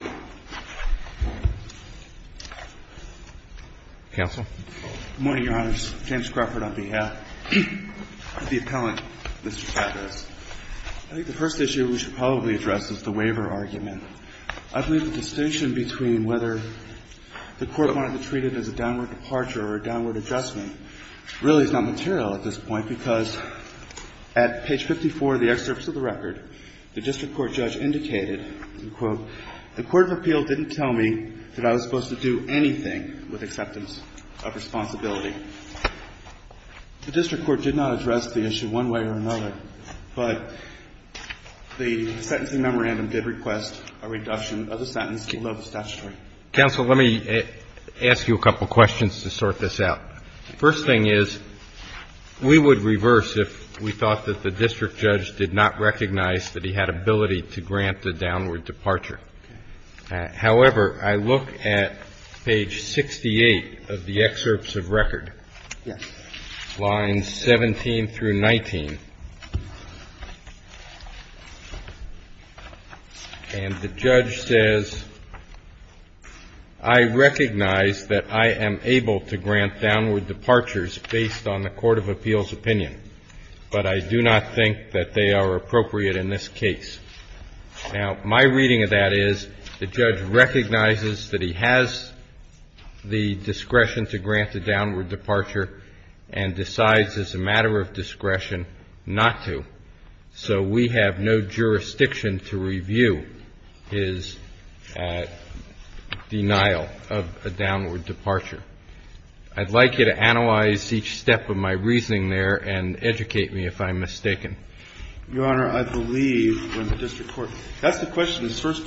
Good morning, Your Honors. James Crawford on behalf of the appellant, Mr. Chavez. I think the first issue we should probably address is the waiver argument. I believe the distinction between whether the Court wanted to treat it as a downward departure or a downward adjustment really is not material at this point, because at page 54 of the Court of Appeal didn't tell me that I was supposed to do anything with acceptance of responsibility. The District Court did not address the issue one way or another, but the sentencing memorandum did request a reduction of the sentence below the statutory. CHIEF JUSTICE ROBERTS Council, let me ask you a couple of questions to sort this out. The first thing is we would reverse if we thought that the district judge did not recognize that he had ability to grant a downward departure. However, I look at page 68 of the excerpts of record, lines 17 through 19, and the judge says, I recognize that I am able to grant downward departures based on the Court of Appeal's opinion, but I do not think that they are appropriate in this case. Now, my reading of that is the judge recognizes that he has the discretion to grant a downward departure and decides as a matter of discretion not to. So we have no jurisdiction to review his denial of a downward departure. I'd like you to analyze each step of my reasoning there and educate me if I'm mistaken. CHIEF JUSTICE ROBERTS Your Honor, I believe when the district court That's the question. First,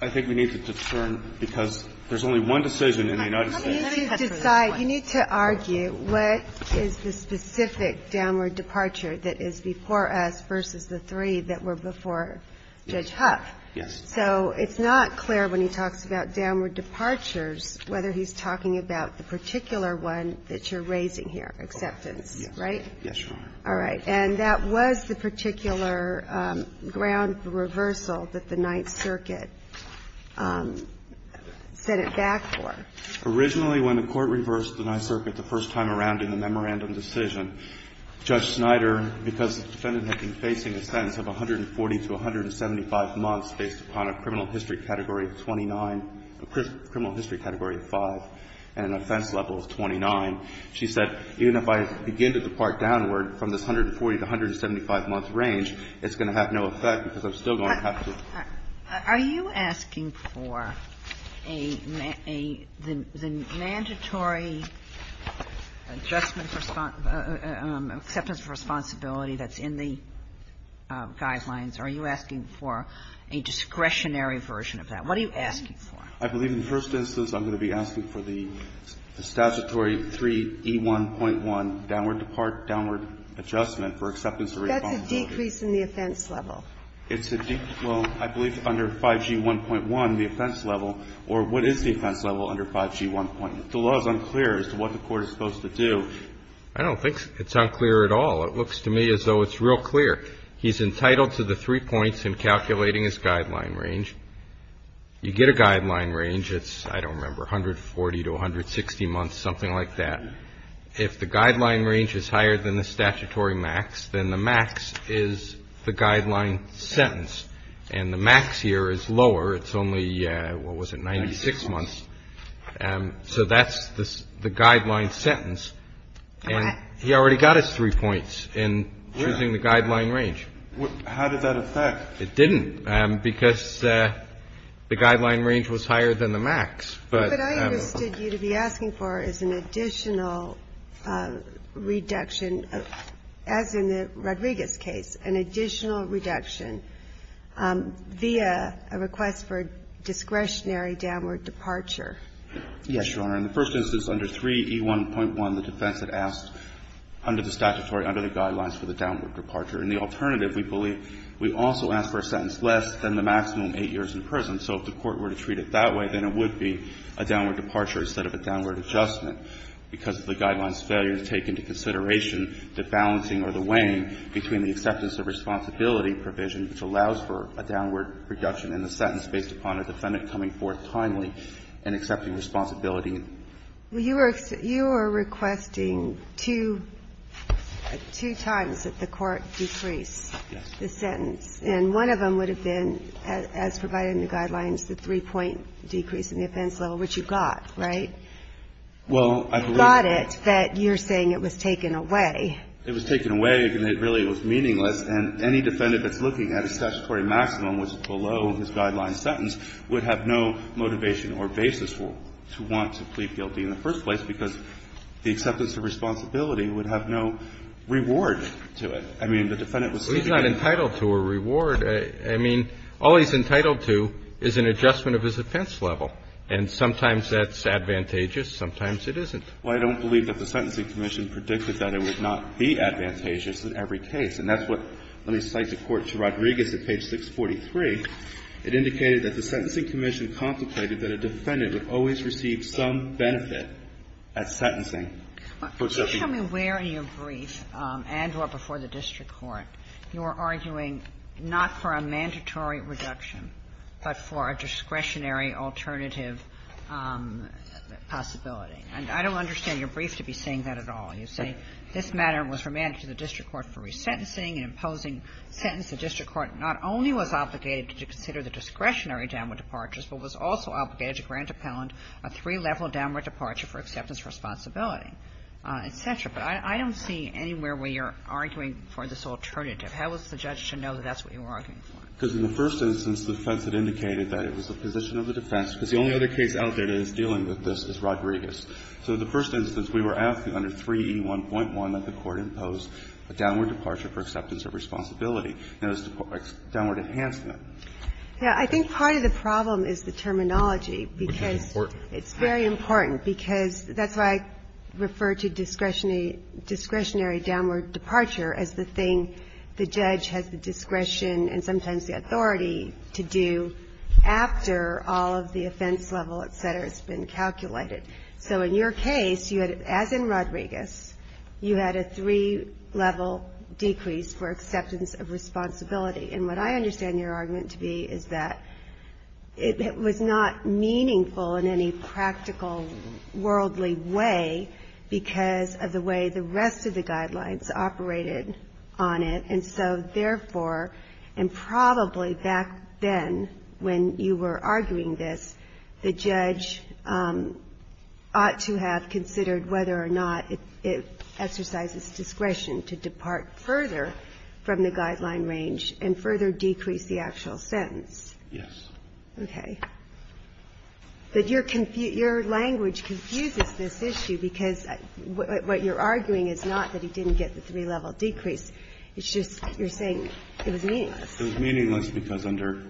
I think we need to determine, because there's only one decision in the United States. Let me touch on this one. You need to argue what is the specific downward departure that is before us versus the three that were before Judge Huff. Yes. So it's not clear when he talks about downward departures whether he's talking about the particular one that you're raising here, acceptance, right? Yes, Your Honor. All right. And that was the particular ground for reversal that the Ninth Circuit set it back for. Originally, when the Court reversed the Ninth Circuit the first time around in the memorandum decision, Judge Snyder, because the defendant had been facing a sentence of 140 to 175 months based upon a criminal history category of 29, a criminal history category of 5, and an offense level of 29. She said, even if I begin to depart downward from this 140 to 175-month range, it's going to have no effect because I'm still going to have to. Are you asking for a mandatory adjustment for acceptance of responsibility that's in the guidelines? Are you asking for a discretionary version of that? What are you asking for? I believe in the first instance I'm going to be asking for the statutory 3E1.1, downward depart, downward adjustment for acceptance of responsibility. That's a decrease in the offense level. It's a decrease. Well, I believe under 5G1.1, the offense level. Or what is the offense level under 5G1.1? The law is unclear as to what the Court is supposed to do. I don't think it's unclear at all. It looks to me as though it's real clear. He's entitled to the three points in calculating his guideline range. You get a guideline range. It's, I don't remember, 140 to 160 months, something like that. If the guideline range is higher than the statutory max, then the max is the guideline sentence. And the max here is lower. It's only, what was it, 96 months. So that's the guideline sentence. And he already got his three points in choosing the guideline range. How did that affect? It didn't, because the guideline range was higher than the max. But I understood you to be asking for is an additional reduction, as in the Rodriguez case, an additional reduction via a request for discretionary downward departure. Yes, Your Honor. In the first instance, under 3E1.1, the defense had asked under the statutory, under the guidelines, for the downward departure. In the alternative, we believe we also asked for a sentence less than the maximum 8 years in prison. So if the Court were to treat it that way, then it would be a downward departure instead of a downward adjustment, because of the guidelines failure to take into consideration the balancing or the weighing between the acceptance of responsibility and coming forth timely and accepting responsibility. Well, you were requesting two times that the Court decrease the sentence. And one of them would have been, as provided in the guidelines, the three-point decrease in the offense level, which you got, right? Well, I believe that you're saying it was taken away. It was taken away, and it really was meaningless. And any defendant that's looking at a statutory maximum which is below his guideline sentence would have no motivation or basis to want to plead guilty in the first place, because the acceptance of responsibility would have no reward to it. I mean, the defendant was seeking a reward. Well, he's not entitled to a reward. I mean, all he's entitled to is an adjustment of his offense level. And sometimes that's advantageous, sometimes it isn't. Well, I don't believe that the Sentencing Commission predicted that it would not be advantageous in every case. And that's what, let me cite the Court to Rodriguez at page 643. It indicated that the Sentencing Commission contemplated that a defendant would always receive some benefit at sentencing. For exception. Kagan. Kagan. Can you tell me where in your brief, and or before the district court, you were arguing not for a mandatory reduction, but for a discretionary alternative possibility? And I don't understand your brief to be saying that at all. You say this matter was remanded to the district court for resentencing and imposing sentence. The district court not only was obligated to consider the discretionary downward departures, but was also obligated to grant appellant a three-level downward departure for acceptance of responsibility, et cetera. But I don't see anywhere where you're arguing for this alternative. How was the judge to know that that's what you were arguing for? Because in the first instance, the defense had indicated that it was the position of the defense, because the only other case out there that is dealing with this is Rodriguez. So the first instance, we were asking under 3E1.1 that the court impose a downward departure for acceptance of responsibility. And it was a downward enhancement. Yeah. I think part of the problem is the terminology, because it's very important. Because that's why I refer to discretionary downward departure as the thing the judge has the discretion and sometimes the authority to do after all of the offense level, et cetera, has been calculated. So in your case, you had, as in Rodriguez, you had a three-level decrease for acceptance of responsibility. And what I understand your argument to be is that it was not meaningful in any practical, worldly way because of the way the rest of the guidelines operated on it. And so, therefore, and probably back then when you were arguing this, the judge ought to have considered whether or not it exercises discretion to depart further from the guideline range and further decrease the actual sentence. Yes. Okay. But your language confuses this issue because what you're arguing is not that he didn't get the three-level decrease. It's just you're saying it was meaningless. It was meaningless because under.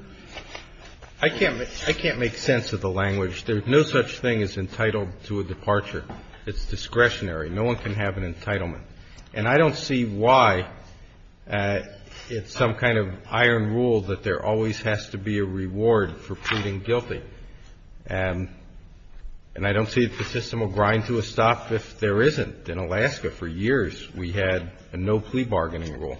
I can't make sense of the language. There's no such thing as entitled to a departure. It's discretionary. No one can have an entitlement. And I don't see why it's some kind of iron rule that there always has to be a reward for pleading guilty. And I don't see that the system will grind to a stop if there isn't. In Alaska, for years, we had a no-plea bargaining rule.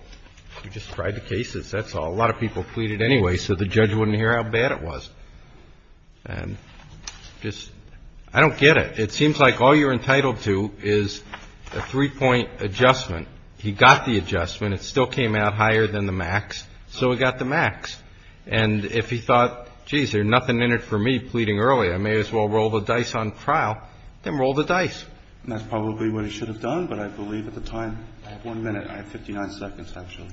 We just tried the cases. That's all. A lot of people pleaded anyway so the judge wouldn't hear how bad it was. And just, I don't get it. It seems like all you're entitled to is a three-point adjustment. He got the adjustment. It still came out higher than the max. So he got the max. And if he thought, geez, there's nothing in it for me pleading early, I may as well roll the dice on trial, then roll the dice. And that's probably what he should have done, but I believe at the time. I have one minute. I have 59 seconds, actually.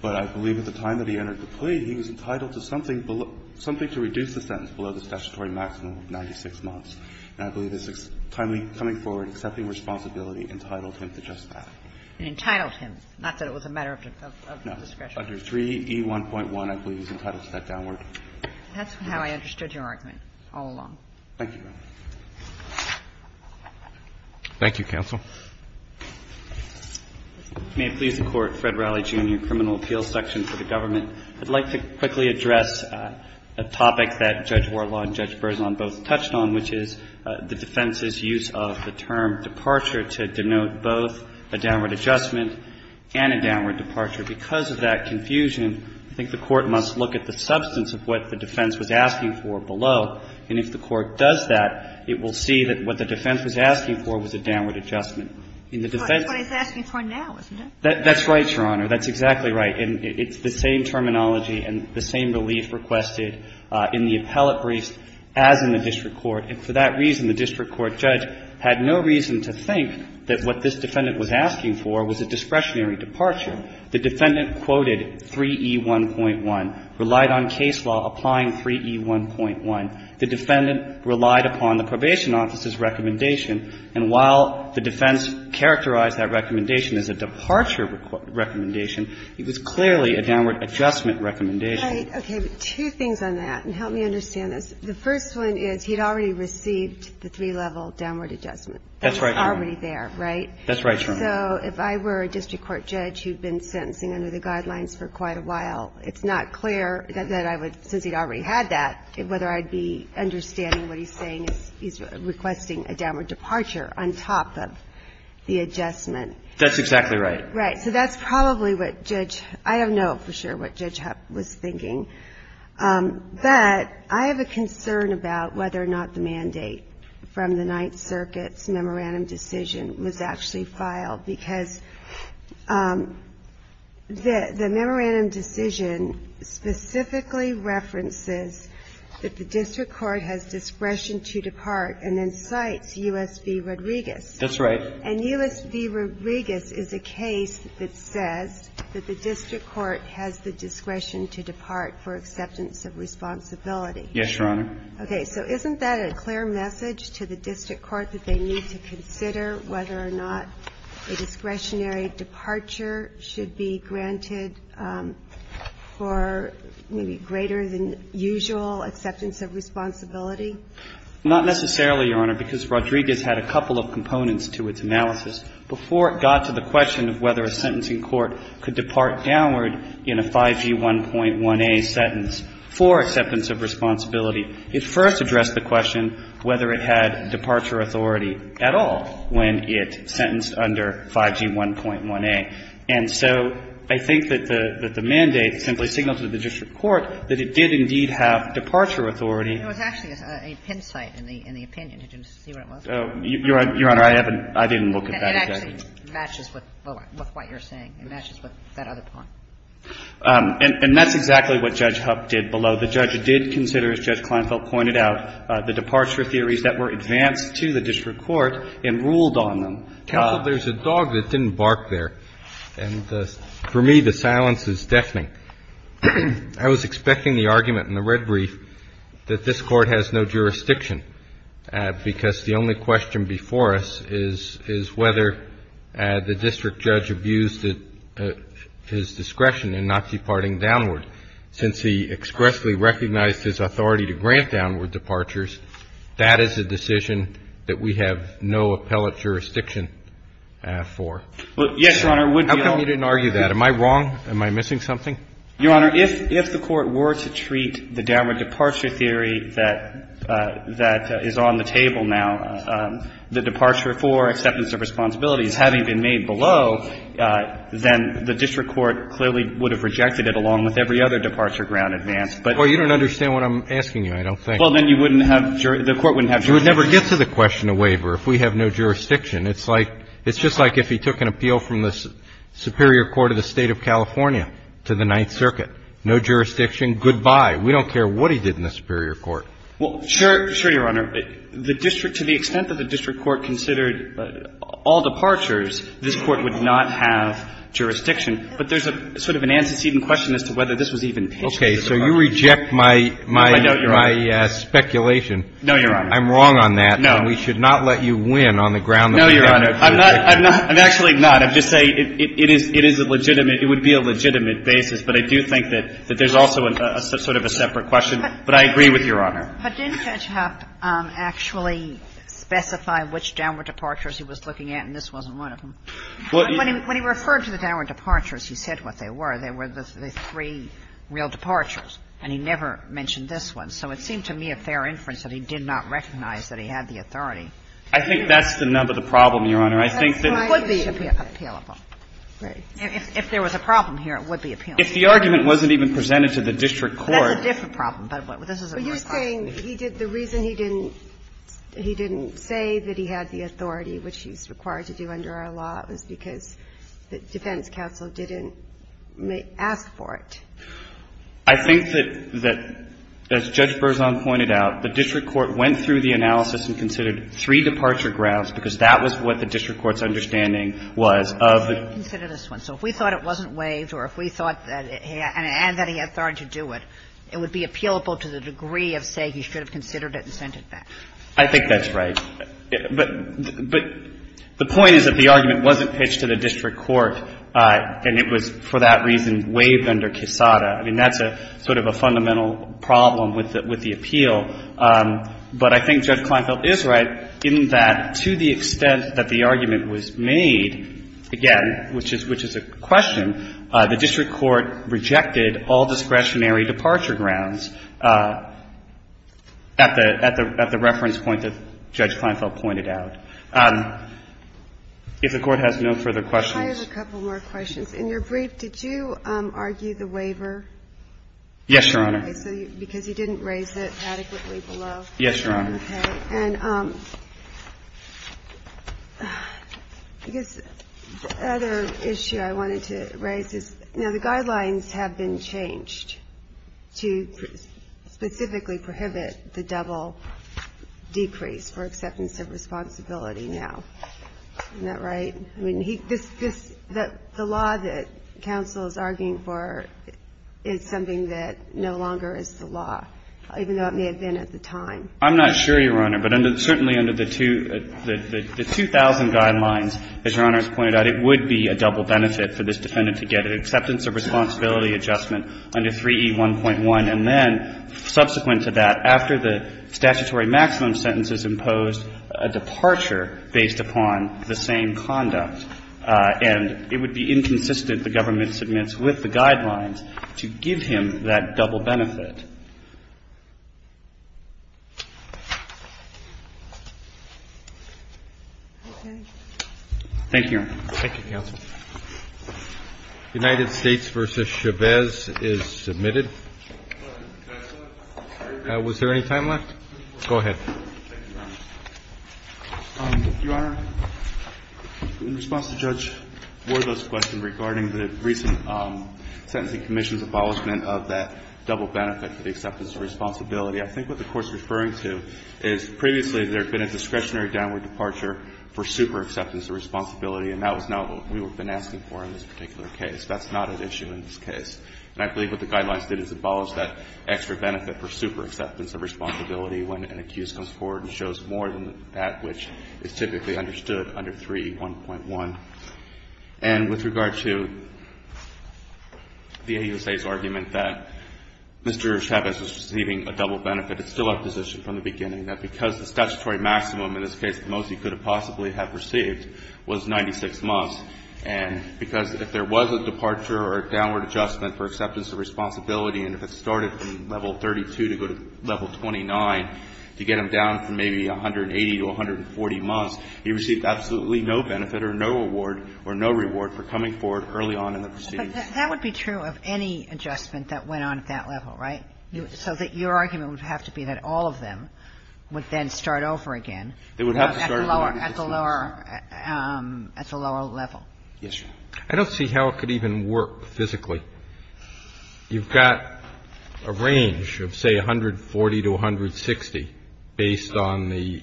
But I believe at the time that he entered the plea, he was entitled to something to reduce the sentence below the statutory maximum of 96 months. And I believe his timely coming forward, accepting responsibility, entitled him to just that. And entitled him. Not that it was a matter of discretion. No. Under 3E1.1, I believe he's entitled to that downward. That's how I understood your argument all along. Thank you, Your Honor. Thank you, counsel. May it please the Court. Fred Riley, Jr., Criminal Appeals Section for the Government. I'd like to quickly address a topic that Judge Warlaw and Judge Berzon both touched on, which is the defense's use of the term departure to denote both a downward adjustment and a downward departure. Because of that confusion, I think the Court must look at the substance of what the defense was asking for below. And if the Court does that, it will see that what the defense was asking for was a downward adjustment. In the defense of the defense. But it's what he's asking for now, isn't it? That's right, Your Honor. That's exactly right. And it's the same terminology and the same relief requested in the appellate briefs as in the district court. And for that reason, the district court judge had no reason to think that what this defendant was asking for was a discretionary departure. The defendant quoted 3E1.1, relied on case law applying 3E1.1. The defendant relied upon the probation office's recommendation. And while the defense characterized that recommendation as a departure recommendation, it was clearly a downward adjustment recommendation. Okay. Two things on that. And help me understand this. The first one is he'd already received the three-level downward adjustment. That's right, Your Honor. That was already there, right? That's right, Your Honor. So if I were a district court judge who'd been sentencing under the guidelines for quite a while, it's not clear that I would, since he'd already had that, whether I'd be understanding what he's saying. He's requesting a downward departure on top of the adjustment. That's exactly right. Right. So that's probably what Judge — I don't know for sure what Judge Hupp was thinking. But I have a concern about whether or not the mandate from the Ninth Circuit's memorandum decision was actually filed, because the memorandum decision specifically references that the district court has discretion to depart and then cites U.S. v. Rodriguez. That's right. And U.S. v. Rodriguez is a case that says that the district court has the discretion to depart for acceptance of responsibility. Yes, Your Honor. Okay. So isn't that a clear message to the district court that they need to consider whether or not a discretionary departure should be granted for maybe greater than usual acceptance of responsibility? Not necessarily, Your Honor, because Rodriguez had a couple of components to its analysis before it got to the question of whether a sentencing court could depart downward in a 5G1.1a sentence for acceptance of responsibility. It first addressed the question whether it had departure authority at all when it sentenced under 5G1.1a. And so I think that the mandate simply signaled to the district court that it did indeed have departure authority. It was actually a pin site in the opinion. Did you see what it was? Your Honor, I haven't – I didn't look at that. It actually matches with what you're saying. It matches with that other point. And that's exactly what Judge Hupp did below. The judge did consider, as Judge Kleinfeld pointed out, the departure theories that were advanced to the district court and ruled on them. Counsel, there's a dog that didn't bark there, and for me the silence is deafening. I was expecting the argument in the red brief that this Court has no jurisdiction, because the only question before us is whether the district judge abused his discretion in not departing downward. Since he expressly recognized his authority to grant downward departures, that is a decision that we have no appellate jurisdiction for. Yes, Your Honor, we don't – How come you didn't argue that? Am I wrong? Am I missing something? Your Honor, if the Court were to treat the downward departure theory that is on the table now, the departure for acceptance of responsibilities having been made below, then the district court clearly would have rejected it along with every other departure ground advance. But – Well, you don't understand what I'm asking you, I don't think. Well, then you wouldn't have – the Court wouldn't have jurisdiction. You would never get to the question of waiver if we have no jurisdiction. It's like – it's just like if he took an appeal from the Superior Court of the State of California to the Ninth Circuit. No jurisdiction, goodbye. We don't care what he did in the Superior Court. Well, sure, Your Honor. The district – to the extent that the district court considered all departures, this Court would not have jurisdiction. But there's a sort of an antecedent question as to whether this was even pitched to the Court. Okay. So you reject my – my – my speculation. No, Your Honor. I'm wrong on that. No. And we should not let you win on the ground that we have no jurisdiction. No, Your Honor. I'm not – I'm not – I'm actually not. I'm just saying it – it is – it is a legitimate – it would be a legitimate basis. But I do think that – that there's also a sort of a separate question. But I agree with Your Honor. But didn't Ketchhop actually specify which downward departures he was looking at, and this wasn't one of them? When he – when he referred to the downward departures, he said what they were. They were the three real departures. And he never mentioned this one. So it seemed to me a fair inference that he did not recognize that he had the authority. I think that's the nub of the problem, Your Honor. I think that – It would be appealable. If there was a problem here, it would be appealable. If the argument wasn't even presented to the district court – That's a different problem. But this is a more cost-effective. But you're saying he did – the reason he didn't – he didn't say that he had the authority, which he's required to do under our law, was because the defense counsel didn't ask for it. I think that – that, as Judge Berzon pointed out, the district court went through the analysis and considered three departure graphs, because that was what the district court's understanding was of the – He considered this one. So if we thought it wasn't waived or if we thought that – and that he had authority to do it, it would be appealable to the degree of saying he should have considered it and sent it back. I think that's right. But – but the point is that the argument wasn't pitched to the district court, and it was for that reason waived under Quesada. I mean, that's a – sort of a fundamental problem with the – with the appeal. But I think Judge Kleinfeld is right in that, to the extent that the argument was made, again, which is – which is a question, the district court rejected all discretionary departure grounds at the – at the – at the reference point that Judge Kleinfeld pointed out. If the Court has no further questions – I have a couple more questions. In your brief, did you argue the waiver? Yes, Your Honor. Because he didn't raise it adequately below? Yes, Your Honor. Okay. And I guess the other issue I wanted to raise is, now, the guidelines have been changed to specifically prohibit the double decrease for acceptance of responsibility now. Isn't that right? I mean, he – this – the law that counsel is arguing for is something that no longer is the law, even though it may have been at the time. I'm not sure, Your Honor, but under – certainly under the two – the 2,000 guidelines, as Your Honor has pointed out, it would be a double benefit for this defendant to get an acceptance of responsibility adjustment under 3E1.1, and then, subsequent to that, after the statutory maximum sentence is imposed, a departure based upon the same conduct, and it would be inconsistent, the government submits, with the guidelines to give him that double benefit. Thank you, Your Honor. Thank you, counsel. United States v. Chavez is submitted. Was there any time left? Go ahead. Your Honor, in response to Judge Wardle's question regarding the recent sentencing commission's abolishment of that double benefit for the acceptance of responsibility, I think what the Court's referring to is, previously, there had been a discretionary downward departure for superexceptance of responsibility, and that was not what we had been asking for in this particular case. That's not an issue in this case. And I believe what the guidelines did is abolish that extra benefit for superexceptance of responsibility when an accused comes forward and shows more than that which is typically understood under 3E1.1. And with regard to the AUSA's argument that Mr. Chavez was receiving a double benefit, it's still our position from the beginning that because the statutory maximum, in this case, the most he could have possibly have received was 96 months, and because if there was a departure or a downward adjustment for acceptance of responsibility and if it started from level 32 to go to level 29 to get him down from maybe 180 to 140 months, he received absolutely no benefit or no award or no reward for coming forward early on in the proceedings. But that would be true of any adjustment that went on at that level, right? So that your argument would have to be that all of them would then start over again at the lower level. Yes, Your Honor. I don't see how it could even work physically. You've got a range of, say, 140 to 160 based on the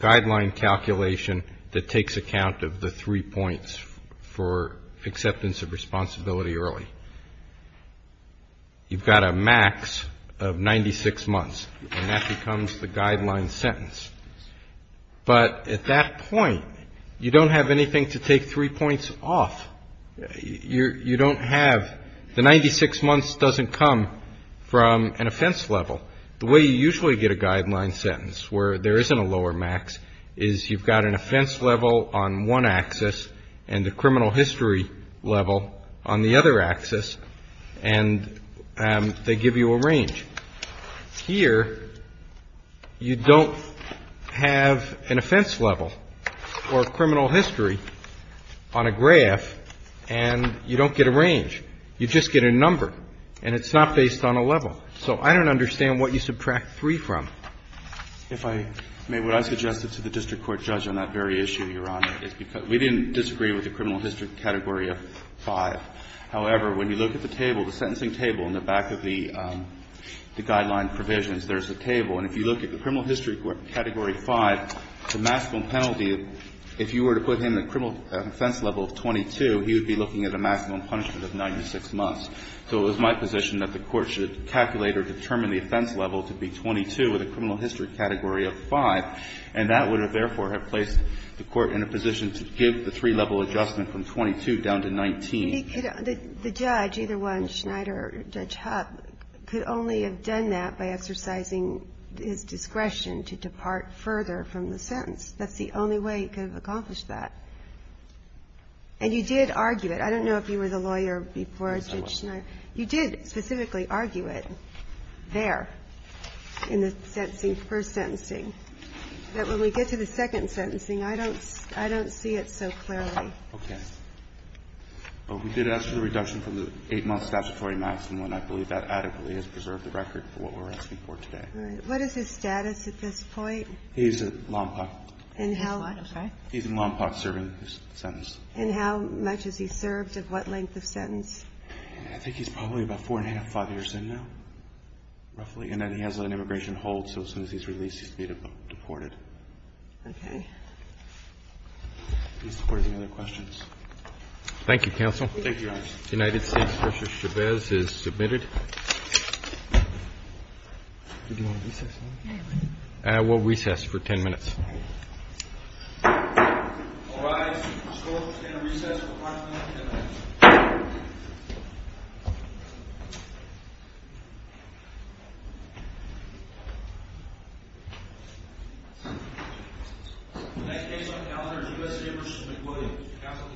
guideline calculation that takes account of the three points for acceptance of responsibility early. You've got a max of 96 months, and that becomes the guideline sentence. But at that point, you don't have anything to take three points off. You don't have the 96 months doesn't come from an offense level. The way you usually get a guideline sentence where there isn't a lower max is you've got an offense level on one axis and the criminal history level on the other axis, and they give you a range. Here, you don't have an offense level or a criminal history on a graph, and you don't get a range. You just get a number, and it's not based on a level. So I don't understand what you subtract three from. If I may, what I suggested to the district court judge on that very issue, Your Honor, is because we didn't disagree with the criminal history category of five. However, when you look at the table, the sentencing table in the back of the guideline provisions, there's a table. And if you look at the criminal history category five, the maximum penalty, if you were to put him at a criminal offense level of 22, he would be looking at a maximum punishment of 96 months. So it was my position that the Court should calculate or determine the offense level to be 22 with a criminal history category of five, and that would have, therefore, placed the Court in a position to give the three-level adjustment from 22 down to 19. The judge, either one, Schneider or Judge Hupp, could only have done that by exercising his discretion to depart further from the sentence. That's the only way he could have accomplished that. And you did argue it. I don't know if you were the lawyer before Judge Schneider. You did specifically argue it there in the sentencing, first sentencing, that when we get to the second sentencing, I don't see it so clearly. Okay. But we did ask for the reduction from the eight-month statutory maximum, and I believe that adequately has preserved the record for what we're asking for today. All right. What is his status at this point? He's at Lompoc. And how much? He's in Lompoc serving his sentence. And how much has he served, and what length of sentence? I think he's probably about four-and-a-half, five years in now, roughly. And then he has an immigration hold, so as soon as he's released, he's going to be deported. Okay. Any other questions? Thank you, counsel. Thank you, Your Honor. United States versus Chavez is submitted. Do you want to recess? I will recess for 10 minutes. The court is going to recess for five minutes and 10 minutes. The next case on the calendar is USA versus McWilliams. Counsel can take counsel table.